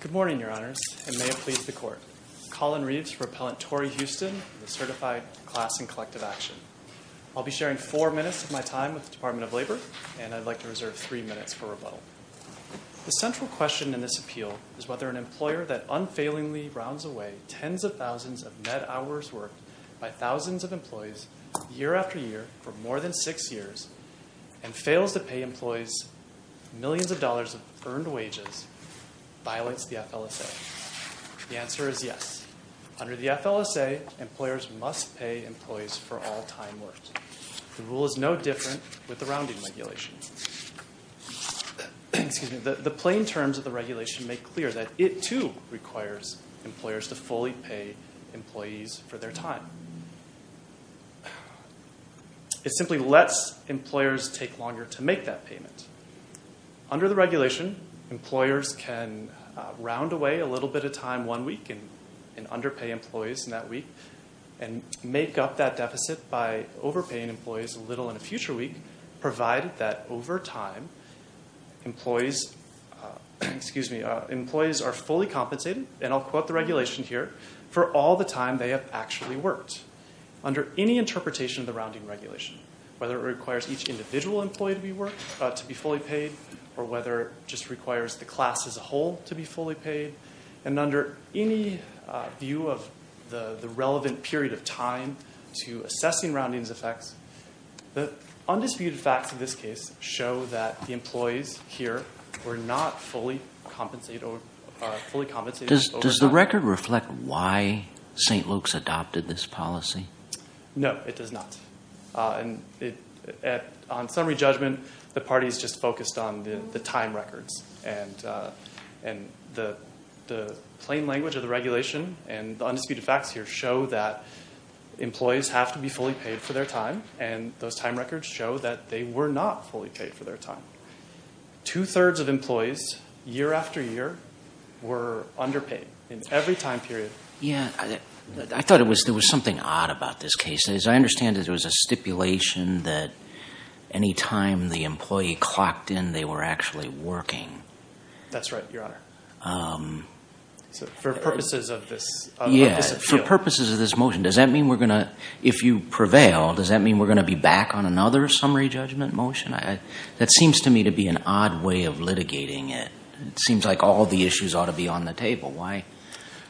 Good morning, Your Honors, and may it please the Court. Colin Reeves, for Appellant Torri Houston, Certified Class in Collective Action. I'll be sharing four minutes of my time with the Department of Labor, and I'd like to reserve three minutes for rebuttal. The central question in this appeal is whether an employer that unfailingly rounds away tens of thousands of net hours worked by thousands of employees year after year for more than six years, and fails to pay employees millions of dollars of earned wages, violates the FLSA. The answer is yes. Under the FLSA, employers must pay employees for all time worked. The rule is no different with the rounding regulation. The plain terms of the regulation make clear that it, too, requires employers to fully pay employees for their time. It simply lets employers take longer to make that payment. Under the regulation, employers can round away a little bit of time one week and underpay employees in that week, and make up that deficit by overpaying employees a little in a future week, provided that over time employees are fully compensated, and I'll quote the regulation here, for all the time they have actually worked. Under any interpretation of the rounding regulation, whether it requires each individual employee to be fully paid, or whether it just requires the class as a whole to be fully paid, and under any view of the relevant period of time to assessing rounding's effects, the undisputed facts in this case show that the employees here were not fully compensated. Does the record reflect why St. Luke's adopted this policy? No, it does not. On summary judgment, the party's just focused on the time records, and the plain language of the regulation and the undisputed facts here show that employees have to be fully paid for their time, and those time records show that they were not fully paid for their time. Two-thirds of employees, year after year, were underpaid in every time period. Yeah, I thought there was something odd about this case. As I understand it, it was a stipulation that any time the employee clocked in, they were actually working. That's right, Your Honor. For purposes of this motion. Yeah, for purposes of this motion. If you prevail, does that mean we're going to be back on another summary judgment motion? That seems to me to be an odd way of litigating it. It seems like all the issues ought to be on the table.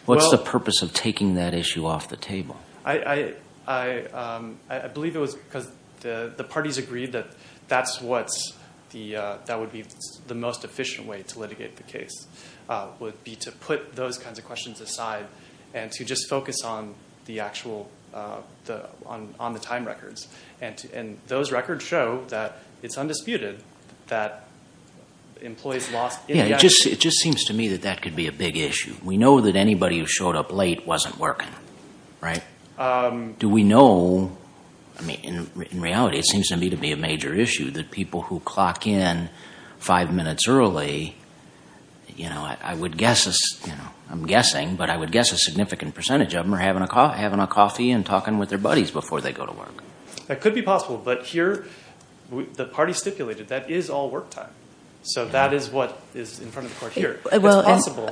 What's the purpose of taking that issue off the table? I believe it was because the parties agreed that that would be the most efficient way to litigate the case, would be to put those kinds of questions aside and to just focus on the time records, and those records show that it's undisputed that employees lost. Yeah, it just seems to me that that could be a big issue. We know that anybody who showed up late wasn't working, right? Do we know? I mean, in reality, it seems to me to be a major issue that people who clock in five minutes early, you know, I'm guessing, but I would guess a significant percentage of them are having a coffee and talking with their buddies before they go to work. That could be possible, but here the parties stipulated that is all work time. So that is what is in front of the court here. Well,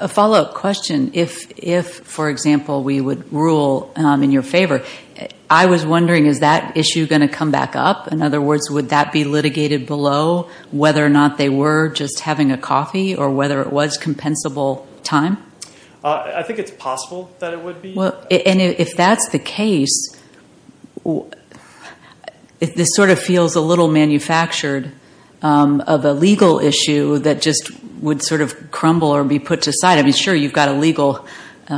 a follow-up question. If, for example, we would rule in your favor, I was wondering, is that issue going to come back up? In other words, would that be litigated below whether or not they were just having a coffee or whether it was compensable time? I think it's possible that it would be. And if that's the case, this sort of feels a little manufactured of a legal issue that just would sort of crumble or be put to side. I mean, sure, you've got a legal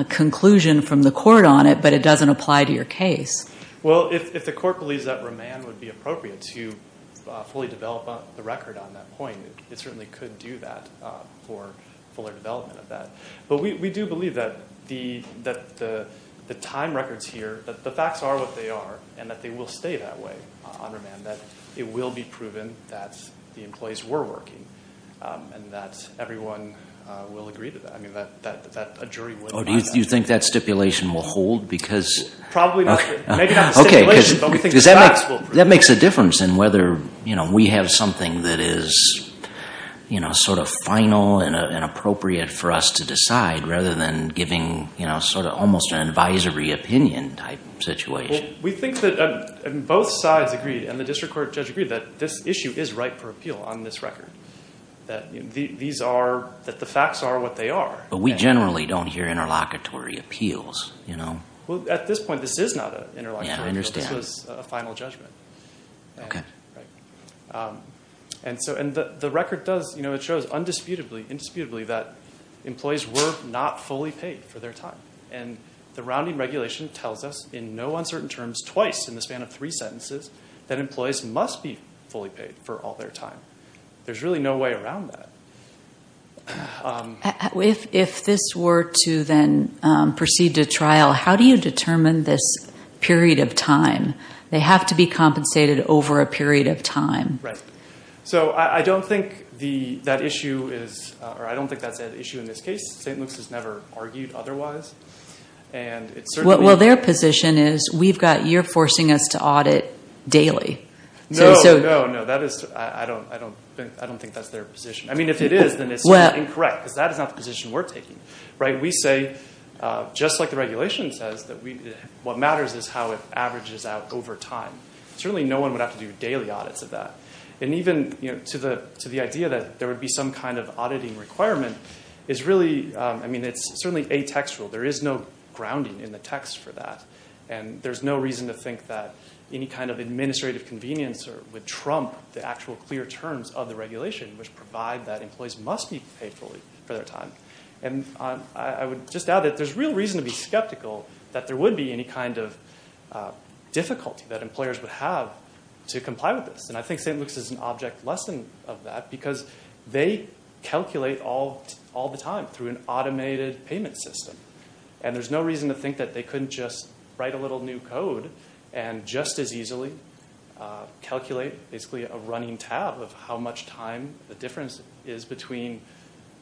conclusion from the court on it, but it doesn't apply to your case. Well, if the court believes that remand would be appropriate to fully develop the record on that point, it certainly could do that for fuller development of that. But we do believe that the time records here, the facts are what they are, and that they will stay that way on remand, that it will be proven that the employees were working and that everyone will agree to that. I mean, that a jury would have that. Do you think that stipulation will hold? Because that makes a difference in whether we have something that is sort of final and appropriate for us to decide rather than giving sort of almost an advisory opinion type situation. Well, we think that both sides agreed, and the district court judge agreed, that this issue is right for appeal on this record, that the facts are what they are. But we generally don't hear interlocutory appeals. Well, at this point, this is not an interlocutory appeal. This was a final judgment. And the record does, you know, it shows indisputably that employees were not fully paid for their time. And the rounding regulation tells us in no uncertain terms twice in the span of three sentences that employees must be fully paid for all their time. There's really no way around that. If this were to then proceed to trial, how do you determine this period of time? They have to be compensated over a period of time. Right. So I don't think that issue is, or I don't think that's an issue in this case. St. Luke's has never argued otherwise. Well, their position is we've got, you're forcing us to audit daily. No, no, no. I don't think that's their position. I mean, if it is, then it's incorrect, because that is not the position we're taking. Right. We say, just like the regulation says, that what matters is how it averages out over time. Certainly no one would have to do daily audits of that. And even to the idea that there would be some kind of auditing requirement is really, I mean, it's certainly atextual. There is no grounding in the text for that. And there's no reason to think that any kind of administrative convenience would trump the actual clear terms of the regulation, which provide that employees must be paid fully for their time. And I would just add that there's real reason to be skeptical that there would be any kind of difficulty that employers would have to comply with this. And I think St. Luke's is an object lesson of that, because they calculate all the time through an automated payment system. And there's no reason to think that they couldn't just write a little new code and just as easily calculate basically a running tab of how much time the difference is between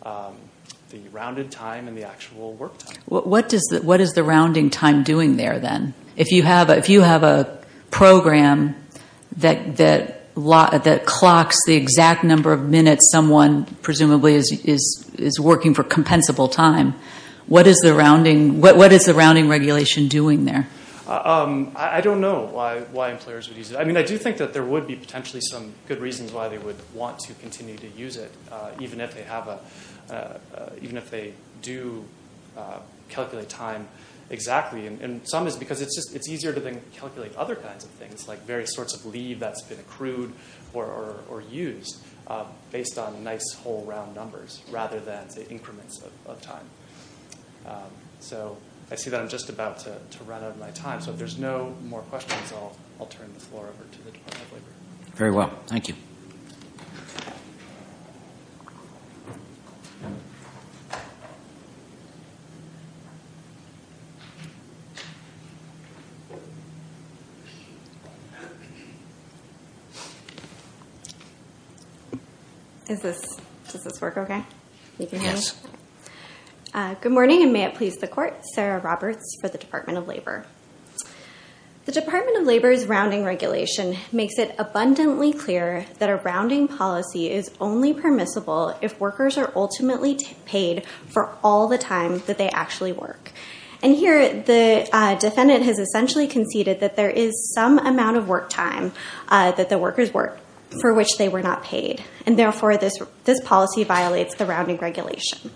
the rounded time and the actual work time. What is the rounding time doing there, then? If you have a program that clocks the exact number of minutes someone presumably is working for compensable time, what is the rounding regulation doing there? I don't know why employers would use it. I mean, I do think that there would be potentially some good reasons why they would want to continue to use it, even if they do calculate time exactly. And some is because it's easier to then calculate other kinds of things, like various sorts of leave that's been accrued or used based on nice whole round numbers rather than, say, increments of time. So I see that I'm just about to run out of my time. So if there's no more questions, I'll turn the floor over to the Department of Labor. Very well. Thank you. Does this work okay? Yes. Good morning, and may it please the court. Sarah Roberts for the Department of Labor. The Department of Labor's rounding regulation makes it abundantly clear that a rounding policy is only permissible if workers are ultimately paid for all the time that they actually work. And here, the defendant has essentially conceded that there is some amount of work time that the workers work for which they were not paid, and therefore this policy violates the rounding regulation.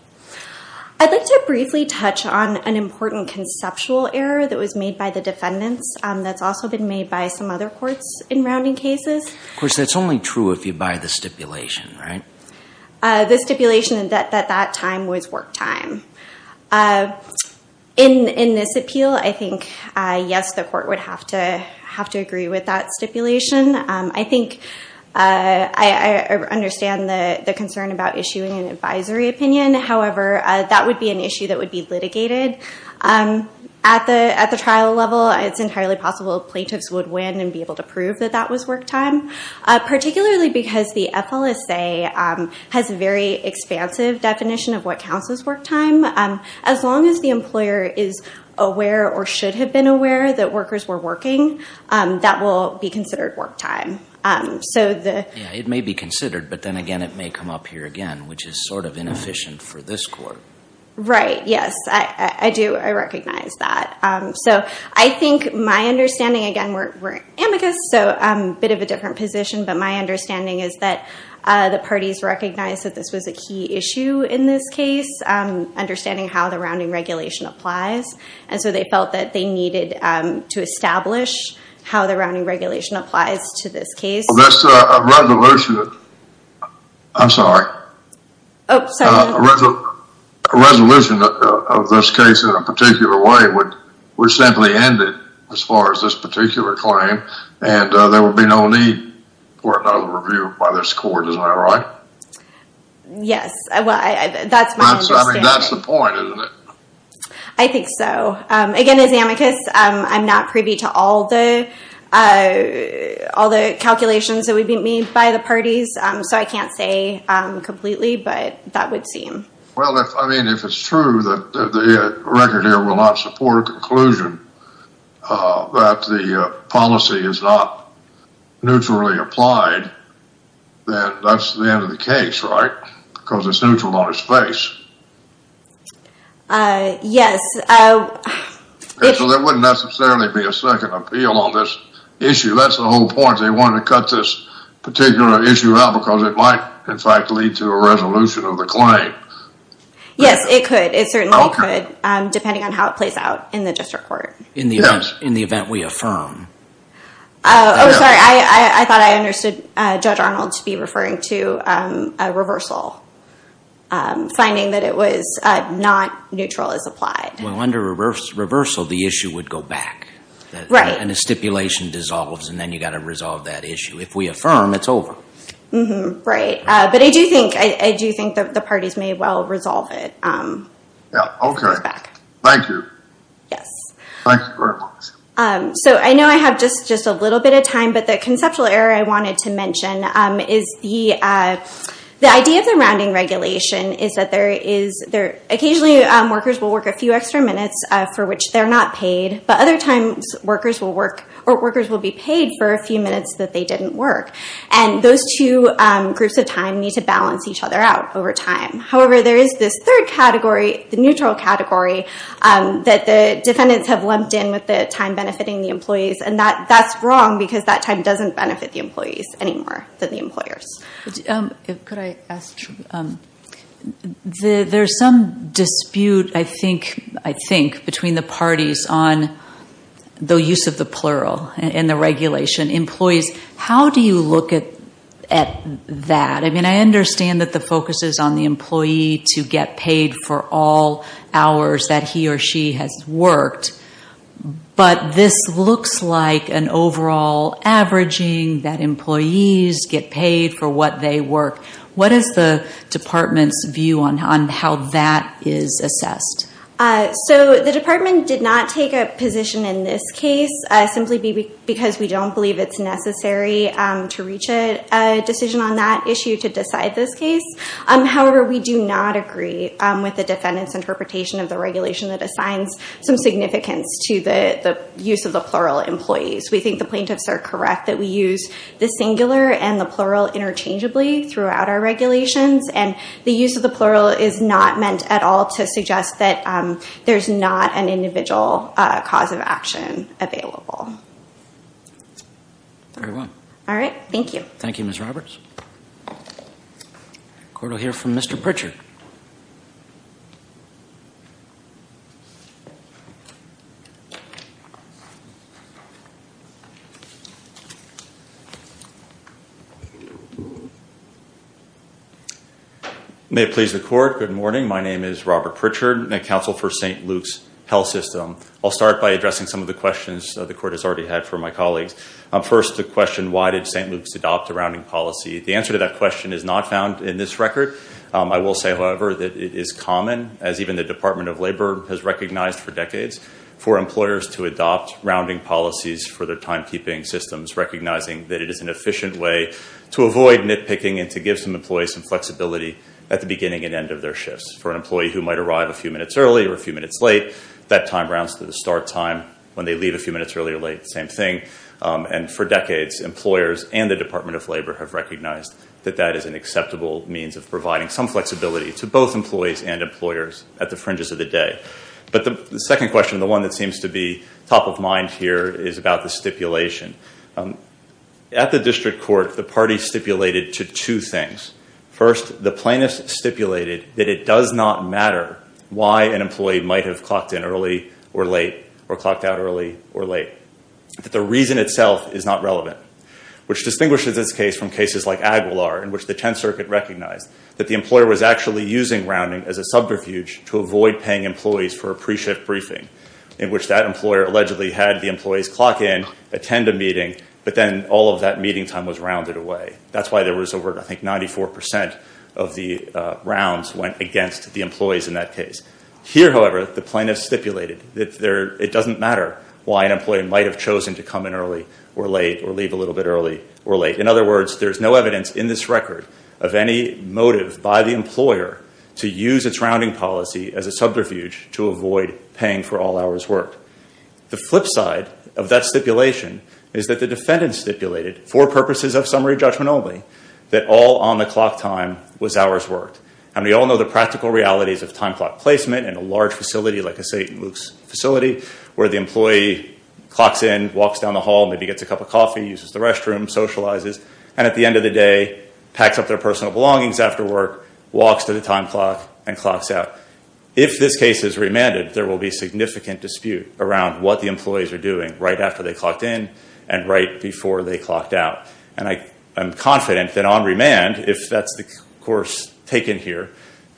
I'd like to briefly touch on an important conceptual error that was made by the defendants that's also been made by some other courts in rounding cases. Of course, that's only true if you buy the stipulation, right? The stipulation that that time was work time. In this appeal, I think, yes, the court would have to agree with that stipulation. I think I understand the concern about issuing an advisory opinion. However, that would be an issue that would be litigated. At the trial level, it's entirely possible plaintiffs would win and be able to prove that that was work time, particularly because the FLSA has a very expansive definition of what counts as work time. As long as the employer is aware or should have been aware that workers were working, that will be considered work time. It may be considered, but then again, it may come up here again, which is sort of inefficient for this court. Right. Yes, I do. I recognize that. I think my understanding, again, we're amicus, so a bit of a different position, but my understanding is that the parties recognize that this was a key issue in this case, understanding how the rounding regulation applies. They felt that they needed to establish how the rounding regulation applies to this case. This resolution, I'm sorry, resolution of this case in a particular way would simply end it as far as this particular claim, and there would be no need for another review by this court. Isn't that right? Yes, that's my understanding. That's the point, isn't it? I think so. Again, as amicus, I'm not privy to all the calculations that would be made by the parties, so I can't say completely, but that would seem. Well, I mean, if it's true that the record here will not support a conclusion that the policy is not neutrally applied, then that's the end of the case, right? Because it's neutral on its face. Yes. So there wouldn't necessarily be a second appeal on this issue. That's the whole point. They wanted to cut this particular issue out because it might, in fact, lead to a resolution of the claim. Yes, it could. It certainly could, depending on how it plays out in the district court. In the event we affirm. Oh, sorry. I thought I understood Judge Arnold to be referring to a reversal, finding that it was not neutral as applied. Well, under reversal, the issue would go back. Right. And a stipulation dissolves, and then you've got to resolve that issue. If we affirm, it's over. Right. But I do think the parties may well resolve it. Okay. Thank you. Yes. Thank you very much. So I know I have just a little bit of time, but the conceptual error I wanted to mention is the idea of the rounding regulation is that occasionally workers will work a few extra minutes for which they're not paid, but other times workers will be paid for a few minutes that they didn't work. And those two groups of time need to balance each other out over time. However, there is this third category, the neutral category, that the defendants have lumped in with the time benefiting the employees. And that's wrong because that time doesn't benefit the employees any more than the employers. Could I ask? There's some dispute, I think, between the parties on the use of the plural in the regulation. Employees, how do you look at that? I mean, I understand that the focus is on the employee to get paid for all hours that he or she has worked. But this looks like an overall averaging that employees get paid for what they work. What is the department's view on how that is assessed? So the department did not take a position in this case simply because we don't believe it's necessary to reach a decision on that issue to decide this case. However, we do not agree with the defendant's interpretation of the regulation that assigns some significance to the use of the plural employees. We think the plaintiffs are correct that we use the singular and the plural interchangeably throughout our regulations. And the use of the plural is not meant at all to suggest that there's not an individual cause of action available. Very well. All right. Thank you. Thank you, Ms. Roberts. The court will hear from Mr. Pritchard. May it please the court, good morning. My name is Robert Pritchard, counsel for St. Luke's Health System. I'll start by addressing some of the questions the court has already had for my colleagues. First, the question, why did St. Luke's adopt a rounding policy? The answer to that question is not found in this record. I will say, however, that it is common, as even the Department of Labor has recognized for decades, for employers to adopt rounding policies for their timekeeping systems, recognizing that it is an efficient way to avoid nitpicking and to give some employees some flexibility at the beginning and end of their shifts. For an employee who might arrive a few minutes early or a few minutes late, that time rounds to the start time. When they leave a few minutes early or late, same thing. And for decades, employers and the Department of Labor have recognized that that is an acceptable means of providing some flexibility to both employees and employers at the fringes of the day. But the second question, the one that seems to be top of mind here, is about the stipulation. At the district court, the party stipulated to two things. First, the plaintiffs stipulated that it does not matter why an employee might have clocked in early or late or clocked out early or late. That the reason itself is not relevant, which distinguishes this case from cases like Aguilar, in which the Tenth Circuit recognized that the employer was actually using rounding as a subterfuge to avoid paying employees for a pre-shift briefing, in which that employer allegedly had the employees clock in, attend a meeting, but then all of that meeting time was rounded away. That's why there was over, I think, 94 percent of the rounds went against the employees in that case. Here, however, the plaintiffs stipulated that it doesn't matter why an employee might have chosen to come in early or late or leave a little bit early or late. In other words, there's no evidence in this record of any motive by the employer to use its rounding policy as a subterfuge to avoid paying for all hours worked. The flip side of that stipulation is that the defendant stipulated, for purposes of summary judgment only, that all on-the-clock time was hours worked. And we all know the practical realities of time clock placement in a large facility, like a St. Luke's facility, where the employee clocks in, walks down the hall, maybe gets a cup of coffee, uses the restroom, socializes, and at the end of the day packs up their personal belongings after work, walks to the time clock, and clocks out. If this case is remanded, there will be significant dispute around what the employees are doing right after they clocked in and right before they clocked out. And I am confident that on remand, if that's the course taken here,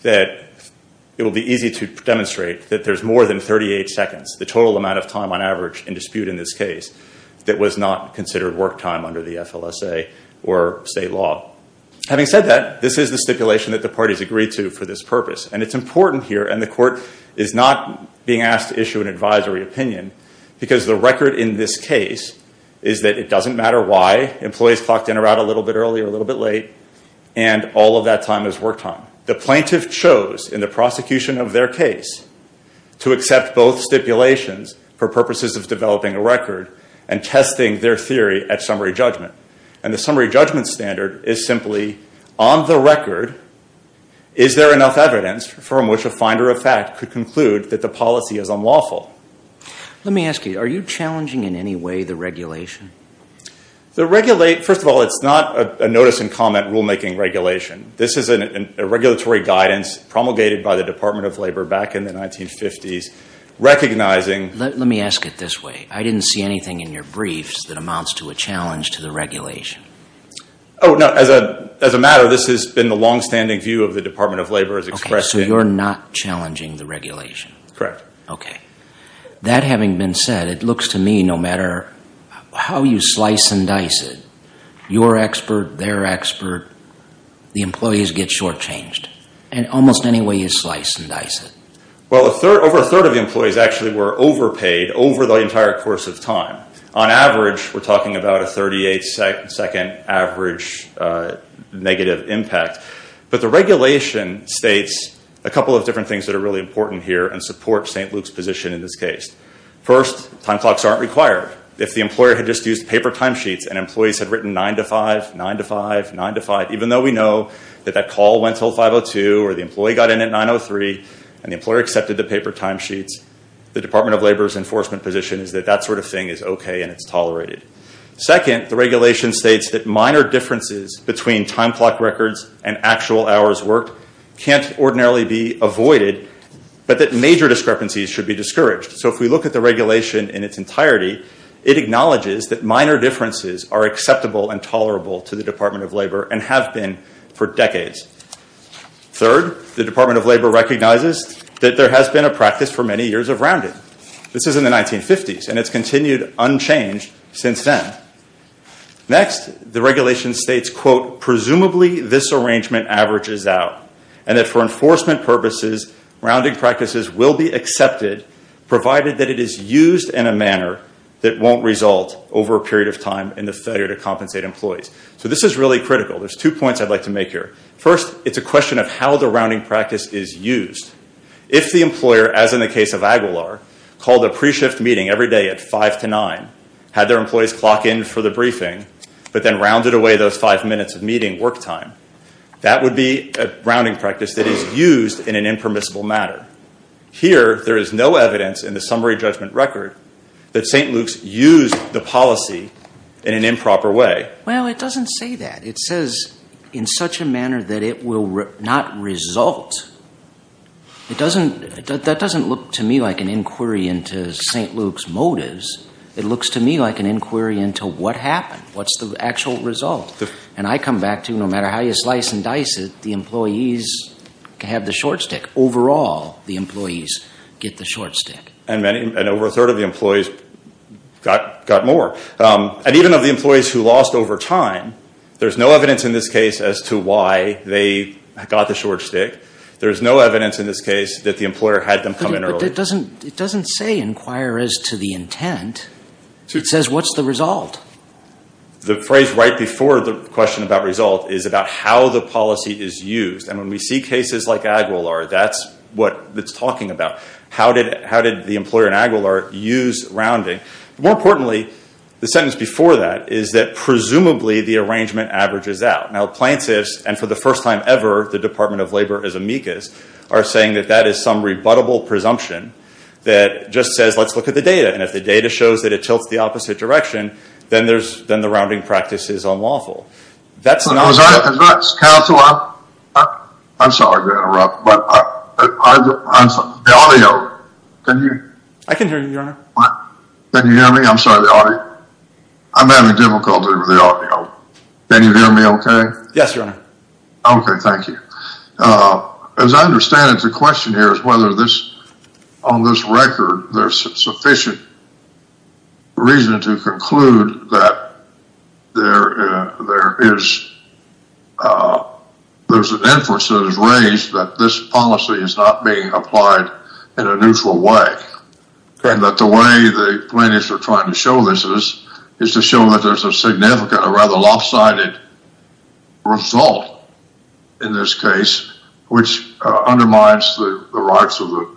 that it will be easy to demonstrate that there's more than 38 seconds, the total amount of time on average in dispute in this case, that was not considered work time under the FLSA or state law. Having said that, this is the stipulation that the parties agreed to for this purpose. And it's important here, and the court is not being asked to issue an advisory opinion, because the record in this case is that it doesn't matter why employees clocked in or out a little bit early or a little bit late, and all of that time is work time. The plaintiff chose, in the prosecution of their case, to accept both stipulations for purposes of developing a record and testing their theory at summary judgment. And the summary judgment standard is simply, on the record, Is there enough evidence from which a finder of fact could conclude that the policy is unlawful? Let me ask you, are you challenging in any way the regulation? First of all, it's not a notice and comment rulemaking regulation. This is a regulatory guidance promulgated by the Department of Labor back in the 1950s, recognizing... Let me ask it this way. I didn't see anything in your briefs that amounts to a challenge to the regulation. Oh, no. As a matter, this has been the longstanding view of the Department of Labor as expressed in... Okay, so you're not challenging the regulation. Correct. Okay. That having been said, it looks to me, no matter how you slice and dice it, your expert, their expert, the employees get shortchanged in almost any way you slice and dice it. Well, over a third of the employees actually were overpaid over the entire course of time. On average, we're talking about a 38-second average negative impact. But the regulation states a couple of different things that are really important here and support St. Luke's position in this case. First, time clocks aren't required. If the employer had just used paper timesheets and employees had written 9 to 5, 9 to 5, 9 to 5, even though we know that that call went till 5.02 or the employee got in at 9.03 and the employer accepted the paper timesheets, the Department of Labor's enforcement position is that that sort of thing is okay and it's tolerated. Second, the regulation states that minor differences between time clock records and actual hours worked can't ordinarily be avoided, but that major discrepancies should be discouraged. So if we look at the regulation in its entirety, it acknowledges that minor differences are acceptable and tolerable to the Department of Labor and have been for decades. Third, the Department of Labor recognizes that there has been a practice for many years of rounding. This is in the 1950s and it's continued unchanged since then. Next, the regulation states, quote, presumably this arrangement averages out and that for enforcement purposes, rounding practices will be accepted, provided that it is used in a manner that won't result over a period of time in the failure to compensate employees. So this is really critical. There's two points I'd like to make here. First, it's a question of how the rounding practice is used. If the employer, as in the case of Aguilar, called a pre-shift meeting every day at 5 to 9, had their employees clock in for the briefing, but then rounded away those five minutes of meeting work time, that would be a rounding practice that is used in an impermissible manner. Here, there is no evidence in the summary judgment record that St. Luke's used the policy in an improper way. Well, it doesn't say that. It says in such a manner that it will not result. That doesn't look to me like an inquiry into St. Luke's motives. It looks to me like an inquiry into what happened, what's the actual result. And I come back to no matter how you slice and dice it, the employees can have the short stick. Overall, the employees get the short stick. And over a third of the employees got more. And even of the employees who lost over time, there's no evidence in this case as to why they got the short stick. There's no evidence in this case that the employer had them come in earlier. But it doesn't say inquire as to the intent. It says what's the result. The phrase right before the question about result is about how the policy is used. And when we see cases like Aguilar, that's what it's talking about. How did the employer in Aguilar use rounding? More importantly, the sentence before that is that presumably the arrangement averages out. Now, plaintiffs, and for the first time ever, the Department of Labor is amicus, are saying that that is some rebuttable presumption that just says let's look at the data. And if the data shows that it tilts the opposite direction, then the rounding practice is unlawful. That's not what I'm saying. Counsel, I'm sorry to interrupt, but the audio, can you hear me? Can you hear me? I'm sorry, the audio. I'm having difficulty with the audio. Can you hear me okay? Yes, Your Honor. Okay, thank you. As I understand it, the question here is whether on this record there's sufficient reason to conclude that there is an inference that is raised that this policy is not being applied in a neutral way. And that the way the plaintiffs are trying to show this is, is to show that there's a significant or rather lopsided result in this case, which undermines the rights of the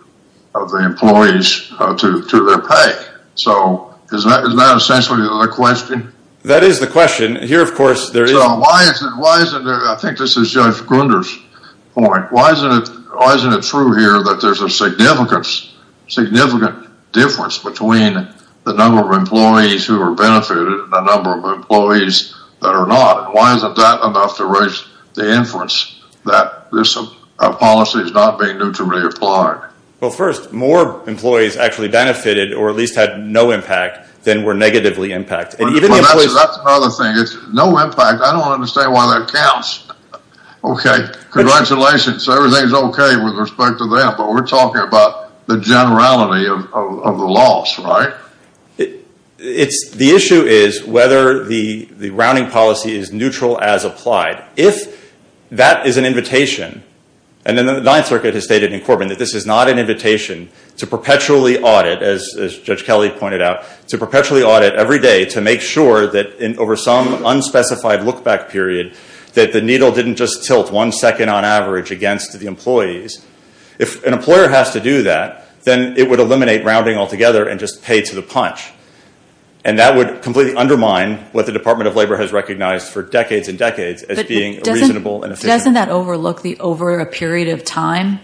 employees to their pay. So is that essentially the question? That is the question. Here, of course, there is. So why isn't there, I think this is Judge Grunder's point, why isn't it true here that there's a significant difference between the number of employees who are benefited and the number of employees that are not? Why isn't that enough to raise the inference that this policy is not being neutrally applied? Well, first, more employees actually benefited or at least had no impact than were negatively impacted. That's another thing. No impact, I don't understand why that counts. Okay, congratulations. Everything is okay with respect to that, but we're talking about the generality of the loss, right? The issue is whether the rounding policy is neutral as applied. If that is an invitation, and then the Ninth Circuit has stated in Corbyn that this is not an invitation to perpetually audit, as Judge Kelly pointed out, to perpetually audit every day to make sure that over some unspecified look-back period that the needle didn't just tilt one second on average against the employees. If an employer has to do that, then it would eliminate rounding altogether and just pay to the punch. And that would completely undermine what the Department of Labor has recognized for decades and decades as being reasonable and efficient. But doesn't that overlook the over a period of time?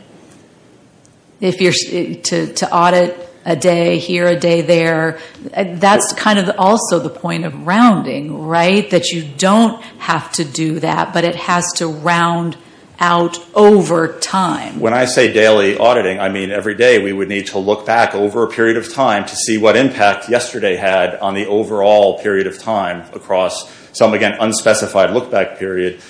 If you're to audit a day here, a day there, that's kind of also the point of rounding, right? That you don't have to do that, but it has to round out over time. When I say daily auditing, I mean every day we would need to look back over a period of time to see what impact yesterday had on the overall period of time across some, again, unspecified look-back period.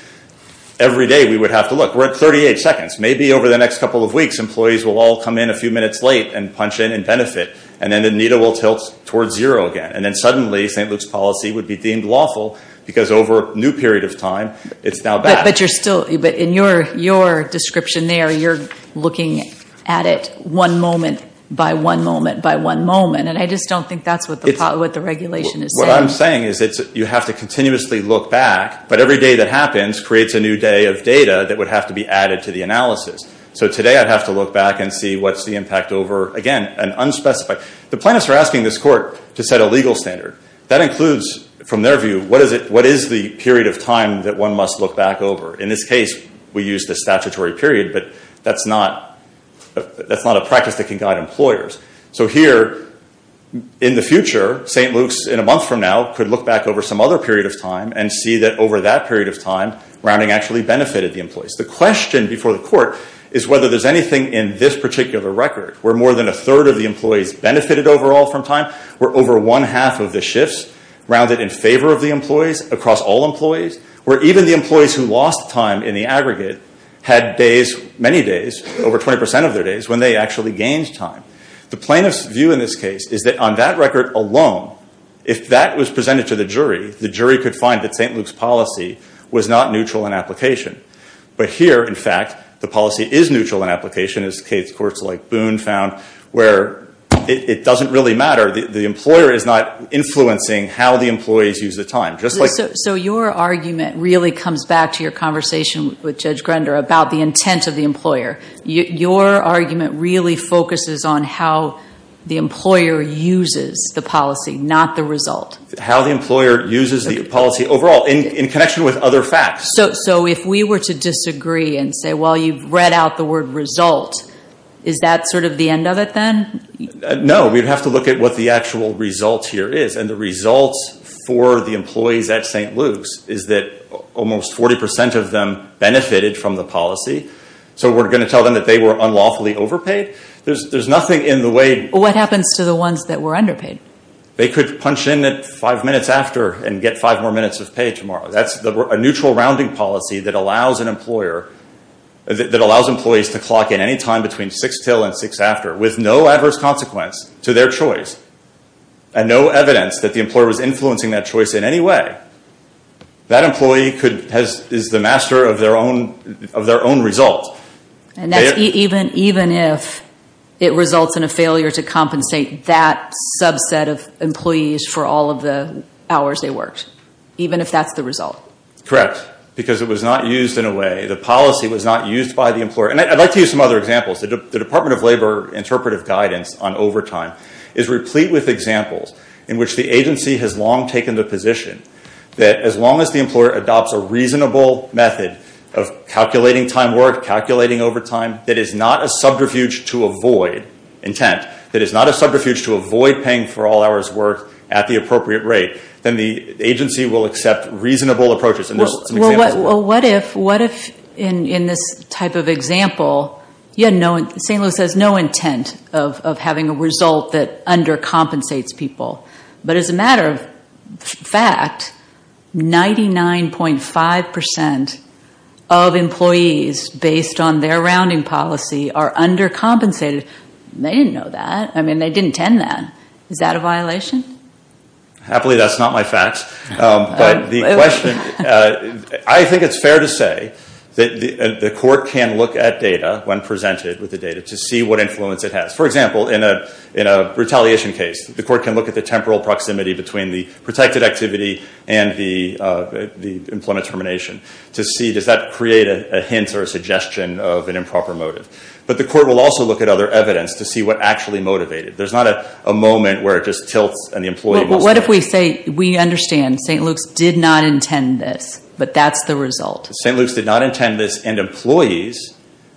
Every day we would have to look. We're at 38 seconds. Maybe over the next couple of weeks, employees will all come in a few minutes late and punch in and benefit. And then the needle will tilt towards zero again. And then suddenly St. Luke's policy would be deemed lawful because over a new period of time, it's now back. But in your description there, you're looking at it one moment by one moment by one moment. And I just don't think that's what the regulation is saying. What I'm saying is you have to continuously look back. But every day that happens creates a new day of data that would have to be added to the analysis. So today I'd have to look back and see what's the impact over, again, an unspecified. The plaintiffs are asking this court to set a legal standard. That includes, from their view, what is the period of time that one must look back over? In this case, we used a statutory period, but that's not a practice that can guide employers. So here, in the future, St. Luke's, in a month from now, could look back over some other period of time and see that over that period of time, rounding actually benefited the employees. The question before the court is whether there's anything in this particular record where more than a third of the employees benefited overall from time, where over one half of the shifts rounded in favor of the employees across all employees, where even the employees who lost time in the aggregate had days, many days, over 20 percent of their days, when they actually gained time. The plaintiff's view in this case is that on that record alone, if that was presented to the jury, the jury could find that St. Luke's policy was not neutral in application. But here, in fact, the policy is neutral in application, as case courts like Boone found, where it doesn't really matter. The employer is not influencing how the employees use the time. So your argument really comes back to your conversation with Judge Grender about the intent of the employer. Your argument really focuses on how the employer uses the policy, not the result. How the employer uses the policy overall, in connection with other facts. So if we were to disagree and say, well, you've read out the word result, is that sort of the end of it then? No. We'd have to look at what the actual result here is. And the result for the employees at St. Luke's is that almost 40 percent of them benefited from the policy. So we're going to tell them that they were unlawfully overpaid? There's nothing in the way. What happens to the ones that were underpaid? They could punch in at five minutes after and get five more minutes of pay tomorrow. That's a neutral rounding policy that allows employees to clock in any time between 6 till and 6 after, with no adverse consequence to their choice and no evidence that the employer was influencing that choice in any way. That employee is the master of their own result. Even if it results in a failure to compensate that subset of employees for all of the hours they worked. Even if that's the result. Correct. Because it was not used in a way, the policy was not used by the employer. And I'd like to use some other examples. The Department of Labor interpretive guidance on overtime is replete with examples in which the agency has long taken the position that as long as the employer adopts a reasonable method of calculating time worked, calculating overtime, that is not a subterfuge to avoid, intent, that is not a subterfuge to avoid paying for all hours worked at the appropriate rate, then the agency will accept reasonable approaches. Well, what if in this type of example, St. Louis has no intent of having a result that undercompensates people. But as a matter of fact, 99.5% of employees based on their rounding policy are undercompensated. They didn't know that. I mean, they didn't intend that. Is that a violation? Happily, that's not my facts. But the question, I think it's fair to say that the court can look at data when presented with the data to see what influence it has. For example, in a retaliation case, the court can look at the temporal proximity between the protected activity and the employment termination to see does that create a hint or a suggestion of an improper motive. But the court will also look at other evidence to see what actually motivated. There's not a moment where it just tilts and the employee must pay. Well, what if we say we understand St. Luke's did not intend this, but that's the result. St. Luke's did not intend this, and employees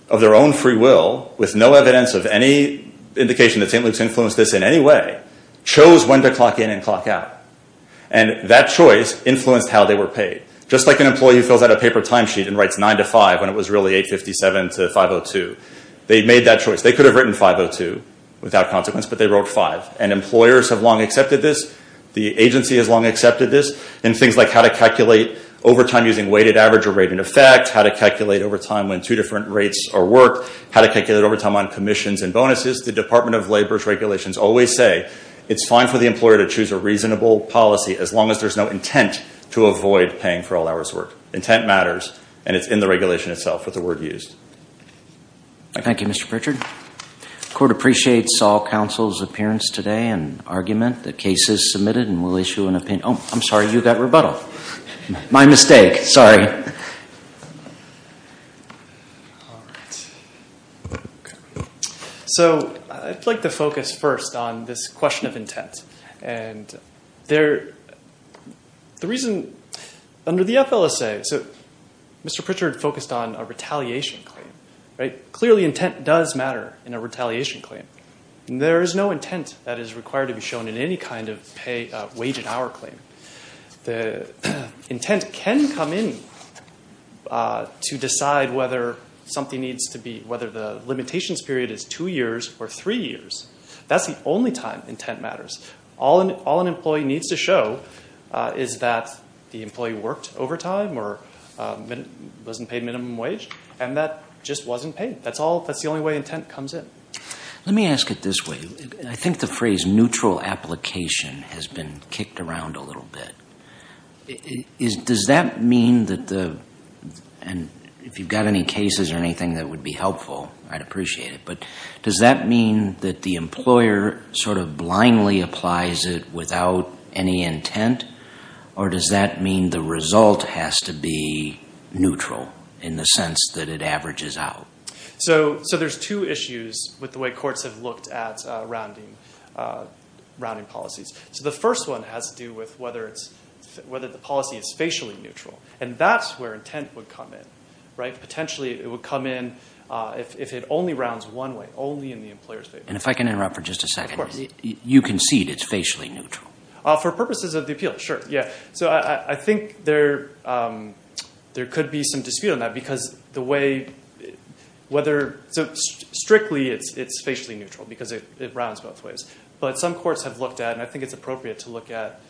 of their own free will, with no evidence of any indication that St. Luke's influenced this in any way, chose when to clock in and clock out. And that choice influenced how they were paid. Just like an employee who fills out a paper time sheet and writes 9 to 5 when it was really 8.57 to 5.02. They made that choice. They could have written 5.02 without consequence, but they wrote 5. And employers have long accepted this. The agency has long accepted this. And things like how to calculate overtime using weighted average or rating effect, how to calculate overtime when two different rates are worked, how to calculate overtime on commissions and bonuses, the Department of Labor's regulations always say it's fine for the employer to choose a reasonable policy as long as there's no intent to avoid paying for all hours worked. Intent matters, and it's in the regulation itself with the word used. Thank you, Mr. Pritchard. The court appreciates all counsel's appearance today and argument. The case is submitted and we'll issue an opinion. Oh, I'm sorry. You got rebuttal. My mistake. Sorry. So I'd like to focus first on this question of intent. And the reason under the FLSA, Mr. Pritchard focused on a retaliation claim. Clearly intent does matter in a retaliation claim. There is no intent that is required to be shown in any kind of wage and hour claim. The intent can come in to decide whether the limitations period is two years or three years. That's the only time intent matters. All an employee needs to show is that the employee worked overtime or wasn't paid minimum wage, and that just wasn't paid. That's the only way intent comes in. Let me ask it this way. I think the phrase neutral application has been kicked around a little bit. Does that mean that the – and if you've got any cases or anything that would be helpful, I'd appreciate it. But does that mean that the employer sort of blindly applies it without any intent, or does that mean the result has to be neutral in the sense that it averages out? So there's two issues with the way courts have looked at rounding policies. So the first one has to do with whether the policy is facially neutral, and that's where intent would come in. Potentially it would come in if it only rounds one way, only in the employer's favor. And if I can interrupt for just a second. You concede it's facially neutral. For purposes of the appeal, sure, yeah. So I think there could be some dispute on that because the way whether – so strictly it's facially neutral because it rounds both ways. But some courts have looked at, and I think it's appropriate to look at,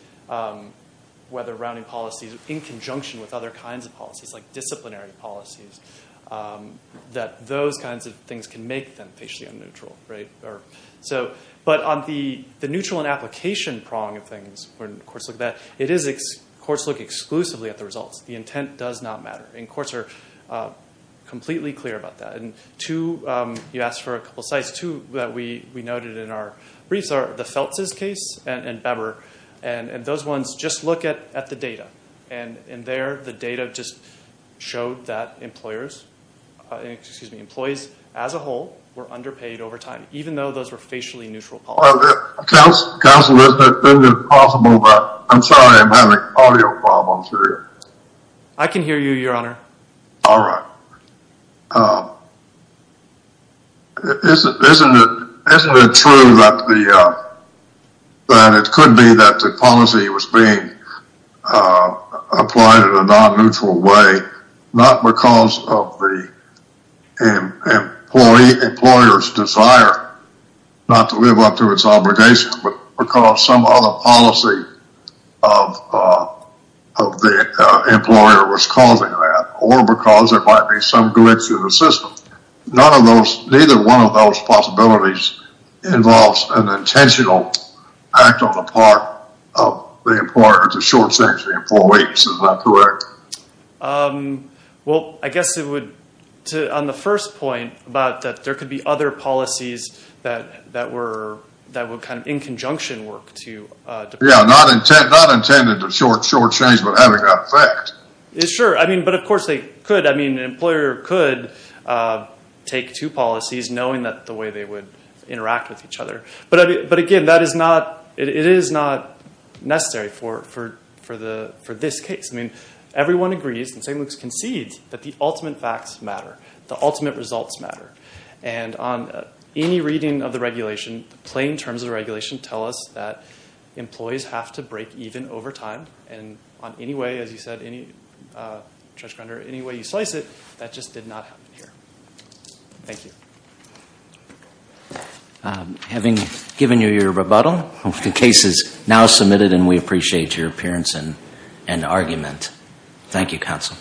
whether rounding policies in conjunction with other kinds of policies, like disciplinary policies, that those kinds of things can make them facially unneutral. But on the neutral and application prong of things, when courts look at that, courts look exclusively at the results. The intent does not matter, and courts are completely clear about that. You asked for a couple of sites. Two that we noted in our briefs are the Feltz's case and Bebber. And those ones, just look at the data. And there the data just showed that employees as a whole were underpaid over time, even though those were facially neutral policies. Counsel, isn't it possible that – I'm sorry, I'm having audio problems here. I can hear you, Your Honor. All right. Isn't it true that it could be that the policy was being applied in a non-neutral way, not because of the employer's desire not to live up to its obligation, but because some other policy of the employer was causing that, or because there might be some glitch in the system? Neither one of those possibilities involves an intentional act on the part of the employer to shortchange the employee. Isn't that correct? Well, I guess it would, on the first point, about that there could be other policies that would kind of in conjunction work to – Yeah, not intended to shortchange, but having that effect. Sure, but of course they could. An employer could take two policies knowing the way they would interact with each other. But again, it is not necessary for this case. Everyone agrees, and St. Luke's concedes, that the ultimate facts matter. The ultimate results matter. And on any reading of the regulation, the plain terms of the regulation tell us that employees have to break even over time. And on any way, as you said, Judge Grunder, any way you slice it, that just did not happen here. Thank you. Having given you your rebuttal, the case is now submitted, and we appreciate your appearance and argument. Thank you, counsel.